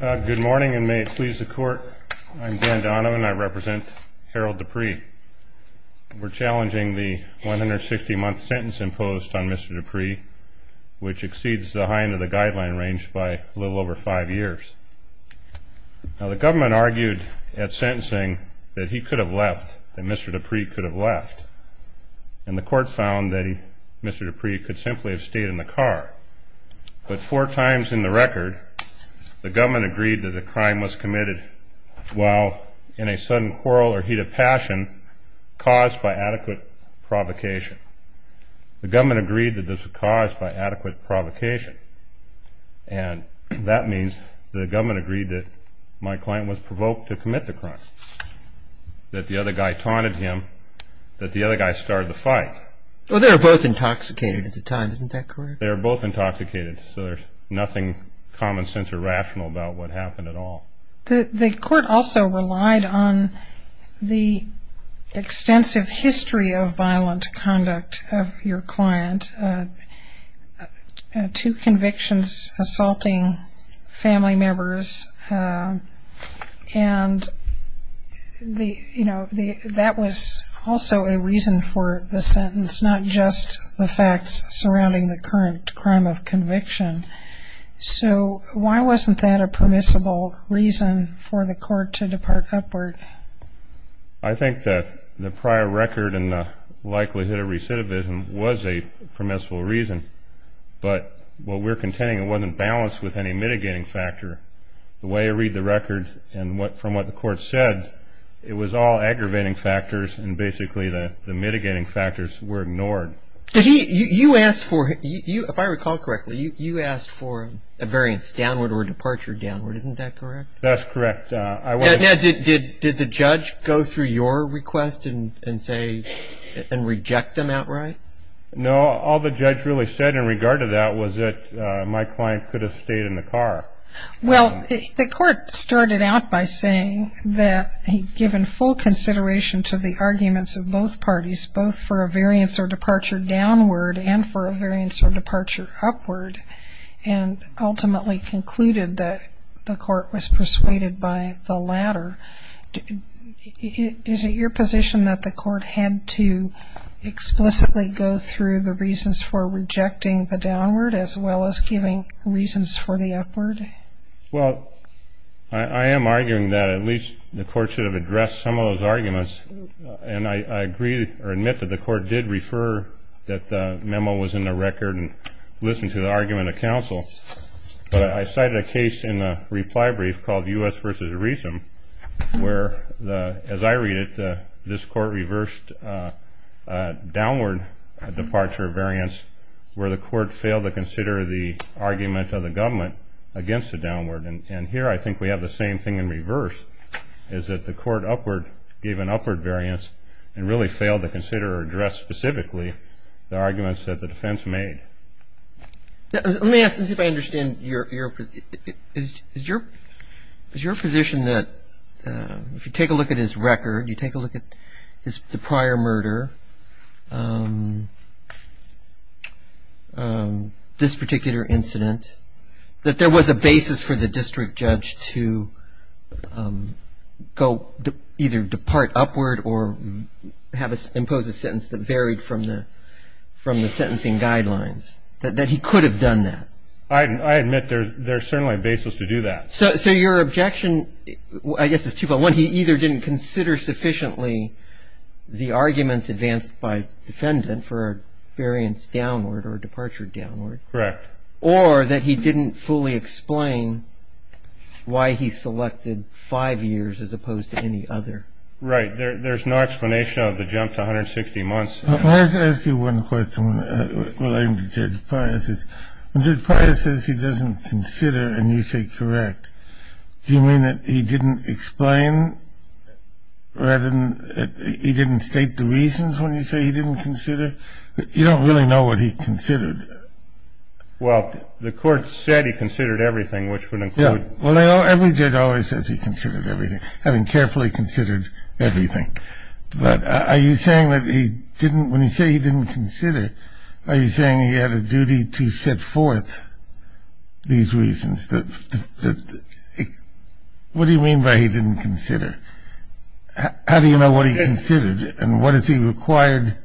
Good morning and may it please the court. I'm Dan Donovan and I represent Harold Dupree. We're challenging the 160 month sentence imposed on Mr. Dupree, which exceeds the high end of the guideline range by a little over five years. Now the government argued at sentencing that he could have left, that Mr. Dupree could have left, and the court found that Mr. Dupree could simply have stayed in the car. But four times in the record, the government agreed that the crime was committed while in a sudden quarrel or heat of passion caused by adequate provocation. The government agreed that this was caused by adequate provocation, and that means the government agreed that my client was provoked to commit the crime, that the other guy taunted him, that the other guy started the fight. Well they were both intoxicated at the time, isn't that correct? They were both intoxicated, so there's nothing common sense or rational about what happened at all. The court also relied on the extensive history of violent conduct of your client, two convictions assaulting family members, and that was also a reason for the sentence, not just the facts surrounding the current crime of conviction. So why wasn't that a permissible reason for the court to depart upward? I think that the prior record and the likelihood of recidivism was a permissible reason, but what we're contending it wasn't balanced with any mitigating factor. The way I read the record and from what the court said, it was all aggravating factors and basically the mitigating factors were ignored. You asked for, if I recall correctly, you asked for a variance downward or departure downward, isn't that correct? That's correct. Did the judge go through your request and reject them outright? No, all the judge really said in regard to that was that my client could have stayed in the car. Well, the court started out by saying that he'd given full consideration to the arguments of both parties, both for a variance or departure downward and for a variance or departure upward, and ultimately concluded that the court was persuaded by the latter. Is it your position that the court had to explicitly go through the reasons for rejecting the downward as well as giving reasons for the upward? Well, I am arguing that at least the court should have addressed some of those arguments, and I agree or admit that the court did refer that the memo was in the record and listened to the argument of counsel, but I cited a case in the reply brief called U.S. v. Rhesum where, as I read it, this court reversed a downward departure variance where the court failed to consider the argument of the government against the downward, and here I think we have the same thing in reverse, is that the court upward gave an upward variance and really failed to consider or address specifically the arguments that the defense made. Let me ask if I understand your position. Is your position that if you take a look at his record, you take a look at his prior murder, this particular incident, that there was a basis for the district judge to either depart upward or impose a sentence that varied from the sentencing guidelines, that he could have done that? I admit there is certainly a basis to do that. So your objection, I guess, is two-fold. One, he either didn't consider sufficiently the arguments advanced by defendant for a variance downward or a departure downward. Correct. Or that he didn't fully explain why he selected five years as opposed to any other. Right. There's no explanation of the jump to 160 months. Let me ask you one question relating to Judge Pius. When Judge Pius says he doesn't consider and you say correct, do you mean that he didn't explain rather than he didn't state the reasons when you say he didn't consider? You don't really know what he considered. Well, the court said he considered everything, which would include... Yeah. Well, every judge always says he considered everything, having carefully considered everything. But are you saying that he didn't, when you say he didn't consider, are you saying he had a duty to set forth these reasons? What do you mean by he didn't consider? How do you know what he considered and what is he required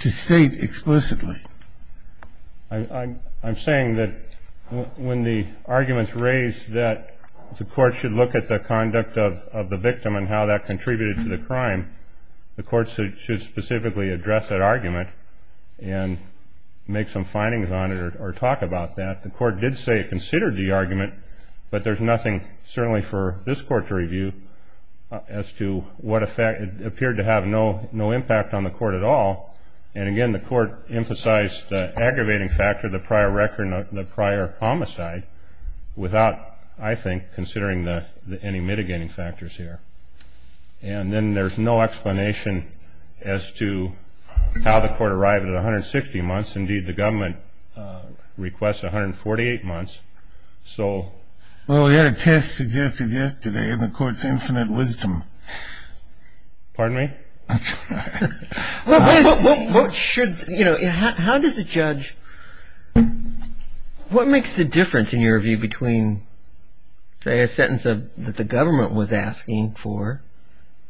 to state explicitly? I'm saying that when the argument's raised that the court should look at the conduct of the victim and how that contributed to the crime, the court should specifically address that argument and make some findings on it or talk about that. The court did say it considered the argument, but there's nothing certainly for this court to review as to what appeared to have no impact on the court at all. And, again, the court emphasized the aggravating factor, the prior record, the prior homicide, without, I think, considering any mitigating factors here. And then there's no explanation as to how the court arrived at 160 months. Indeed, the government requests 148 months. So... Well, we had a test suggested yesterday in the court's infinite wisdom. Pardon me? That's all right. What should... you know, how does a judge... What makes the difference in your view between, say, a sentence that the government was asking for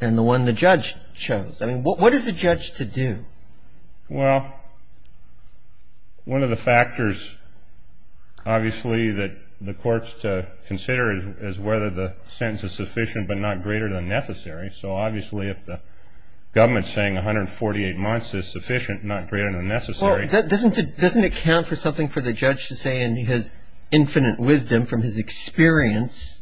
and the one the judge chose? I mean, what is the judge to do? Well, one of the factors, obviously, that the court's to consider is whether the sentence is sufficient but not greater than necessary. So, obviously, if the government's saying 148 months is sufficient, not greater than necessary... I think for the judge to say in his infinite wisdom from his experience,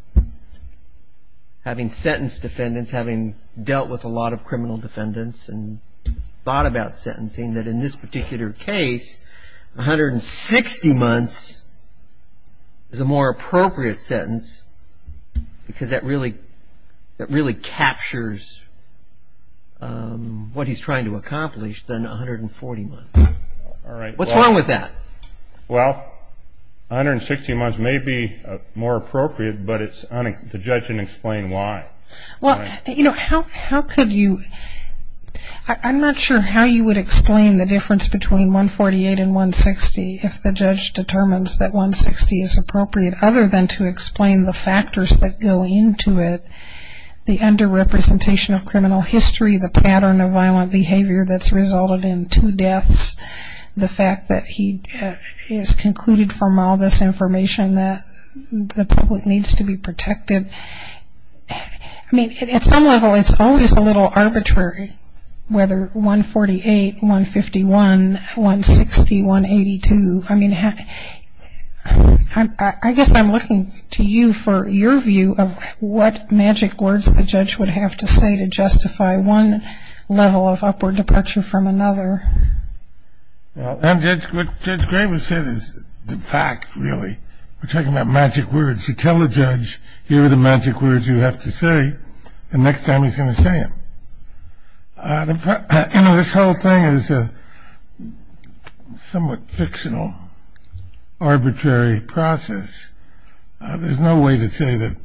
having sentenced defendants, having dealt with a lot of criminal defendants and thought about sentencing, that in this particular case, 160 months is a more appropriate sentence because that really captures what he's trying to accomplish than 140 months. All right. What's wrong with that? Well, 160 months may be more appropriate, but the judge didn't explain why. Well, you know, how could you... I'm not sure how you would explain the difference between 148 and 160 if the judge determines that 160 is appropriate, other than to explain the factors that go into it, the underrepresentation of criminal history, the pattern of violent behavior that's resulted in two deaths, the fact that he has concluded from all this information that the public needs to be protected. I mean, at some level, it's always a little arbitrary whether 148, 151, 160, 182... I mean, I guess I'm looking to you for your view of what magic words the judge would have to say to justify one level of upward departure from another. Well, what Judge Graber said is the fact, really. We're talking about magic words. You tell the judge, here are the magic words you have to say, and next time he's going to say them. You know, this whole thing is a somewhat fictional, arbitrary process. There's no way to say that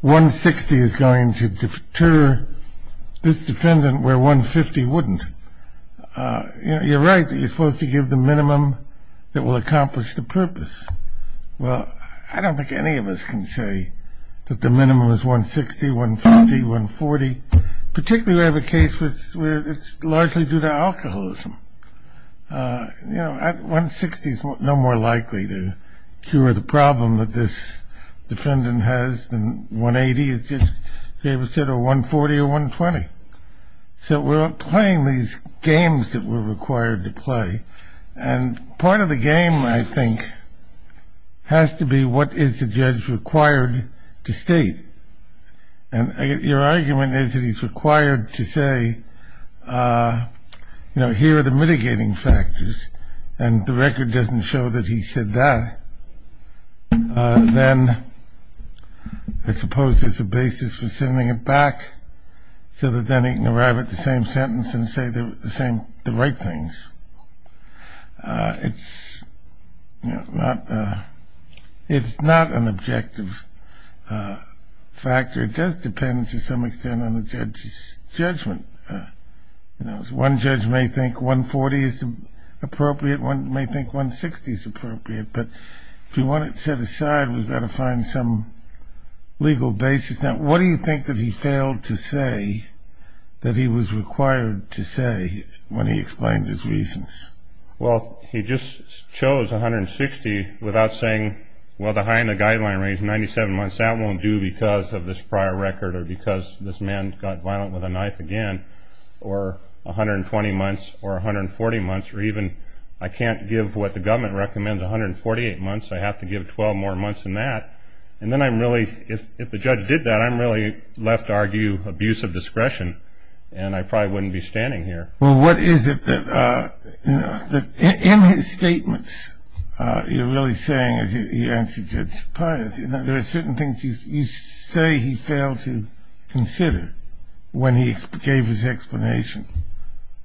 160 is going to deter this defendant where 150 wouldn't. You're right that you're supposed to give the minimum that will accomplish the purpose. Well, I don't think any of us can say that the minimum is 160, 150, 140. Particularly, we have a case where it's largely due to alcoholism. You know, 160 is no more likely to cure the problem that this defendant has than 180, as Judge Graber said, or 140 or 120. So we're playing these games that we're required to play, and part of the game, I think, has to be what is the judge required to state. And your argument is that he's required to say, you know, here are the mitigating factors, and the record doesn't show that he said that. Then I suppose there's a basis for sending it back so that then he can arrive at the same sentence and say the right things. It's not an objective factor. It does depend, to some extent, on the judge's judgment. One judge may think 140 is appropriate. One may think 160 is appropriate. But if you want it set aside, we've got to find some legal basis. What do you think that he failed to say that he was required to say when he explains his reasons? Well, he just chose 160 without saying, well, the high end of the guideline range, 97 months, that won't do because of this prior record or because this man got violent with a knife again, or 120 months or 140 months, or even I can't give what the government recommends, 148 months. I have to give 12 more months than that. And then I'm really, if the judge did that, I'm really left to argue abuse of discretion, and I probably wouldn't be standing here. Well, what is it that, you know, in his statements, you're really saying, as you answered Judge Pius, you know, there are certain things you say he failed to consider when he gave his explanation.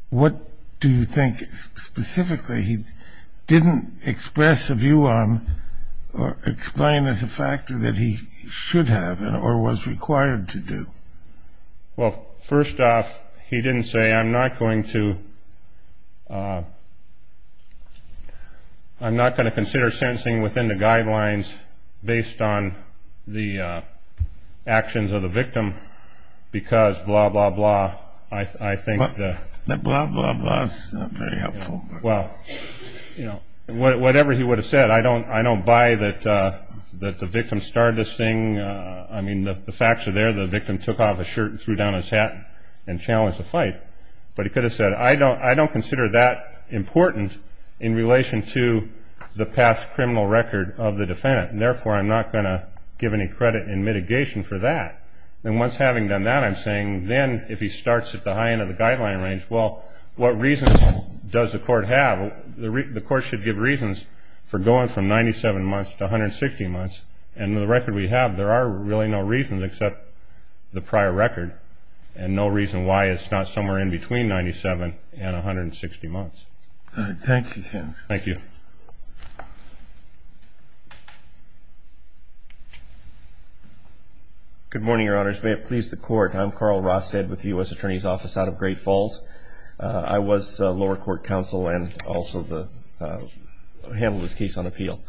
What do you think specifically he didn't express a view on or explain as a factor that he should have or was required to do? Well, first off, he didn't say I'm not going to consider sentencing within the guidelines based on the actions of the victim because blah, blah, blah. I think the blah, blah, blah is not very helpful. Well, you know, whatever he would have said. I don't buy that the victim started this thing. I mean, the facts are there. The victim took off his shirt and threw down his hat and challenged the fight. But he could have said I don't consider that important in relation to the past criminal record of the defendant. And therefore, I'm not going to give any credit in mitigation for that. And once having done that, I'm saying then if he starts at the high end of the guideline range, well, what reasons does the court have? The court should give reasons for going from 97 months to 160 months. And the record we have, there are really no reasons except the prior record and no reason why it's not somewhere in between 97 and 160 months. All right. Thank you, Judge. Thank you. Good morning, Your Honors. May it please the Court. I'm Carl Rostead with the U.S. Attorney's Office out of Great Falls. I was lower court counsel and also handled this case on appeal.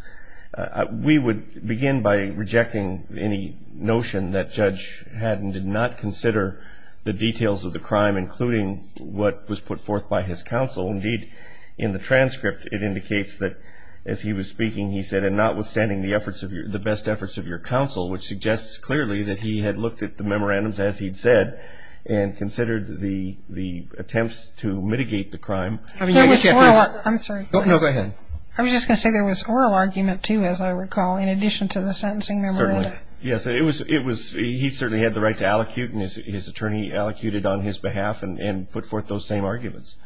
We would begin by rejecting any notion that Judge Haddon did not consider the details of the crime, including what was put forth by his counsel. Indeed, in the transcript, it indicates that as he was speaking, he said, notwithstanding the best efforts of your counsel, which suggests clearly that he had looked at the memorandums as he'd said and considered the attempts to mitigate the crime. I'm sorry. No, go ahead. I was just going to say there was oral argument, too, as I recall, in addition to the sentencing memorandum. Certainly. Yes, he certainly had the right to allocute, and his attorney allocated on his behalf and put forth those same arguments.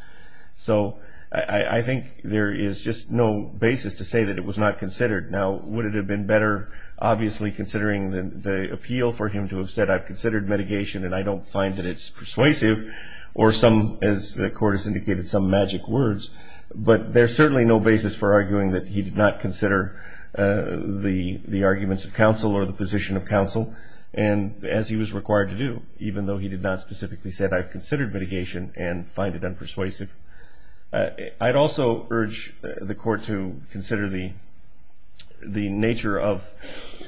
So I think there is just no basis to say that it was not considered. Now, would it have been better, obviously, considering the appeal for him to have said, I've considered mitigation and I don't find that it's persuasive, or some, as the Court has indicated, some magic words. But there's certainly no basis for arguing that he did not consider the arguments of counsel or the position of counsel as he was required to do, even though he did not specifically say, I've considered mitigation and find it unpersuasive. I'd also urge the Court to consider the nature of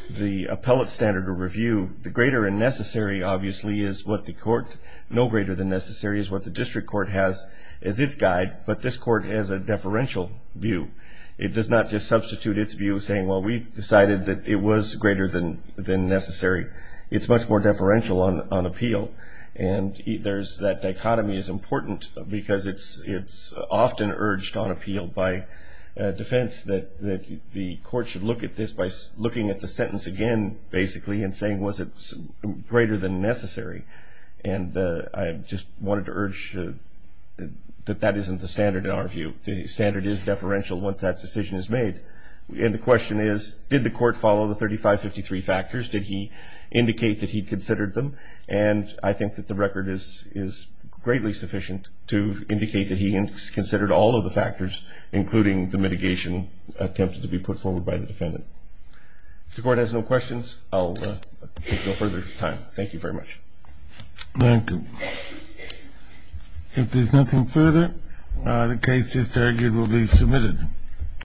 the appellate standard of review. The greater and necessary, obviously, is what the Court, no greater than necessary, is what the district court has as its guide, but this Court has a deferential view. It does not just substitute its view saying, well, we've decided that it was greater than necessary. It's much more deferential on appeal. And that dichotomy is important because it's often urged on appeal by defense that the Court should look at this by looking at the sentence again, basically, and saying, was it greater than necessary? And I just wanted to urge that that isn't the standard in our view. The standard is deferential once that decision is made. And the question is, did the Court follow the 3553 factors? Did he indicate that he considered them? And I think that the record is greatly sufficient to indicate that he considered all of the factors, including the mitigation attempt to be put forward by the defendant. If the Court has no questions, I'll take no further time. Thank you very much. Thank you. If there's nothing further, the case is argued will be submitted.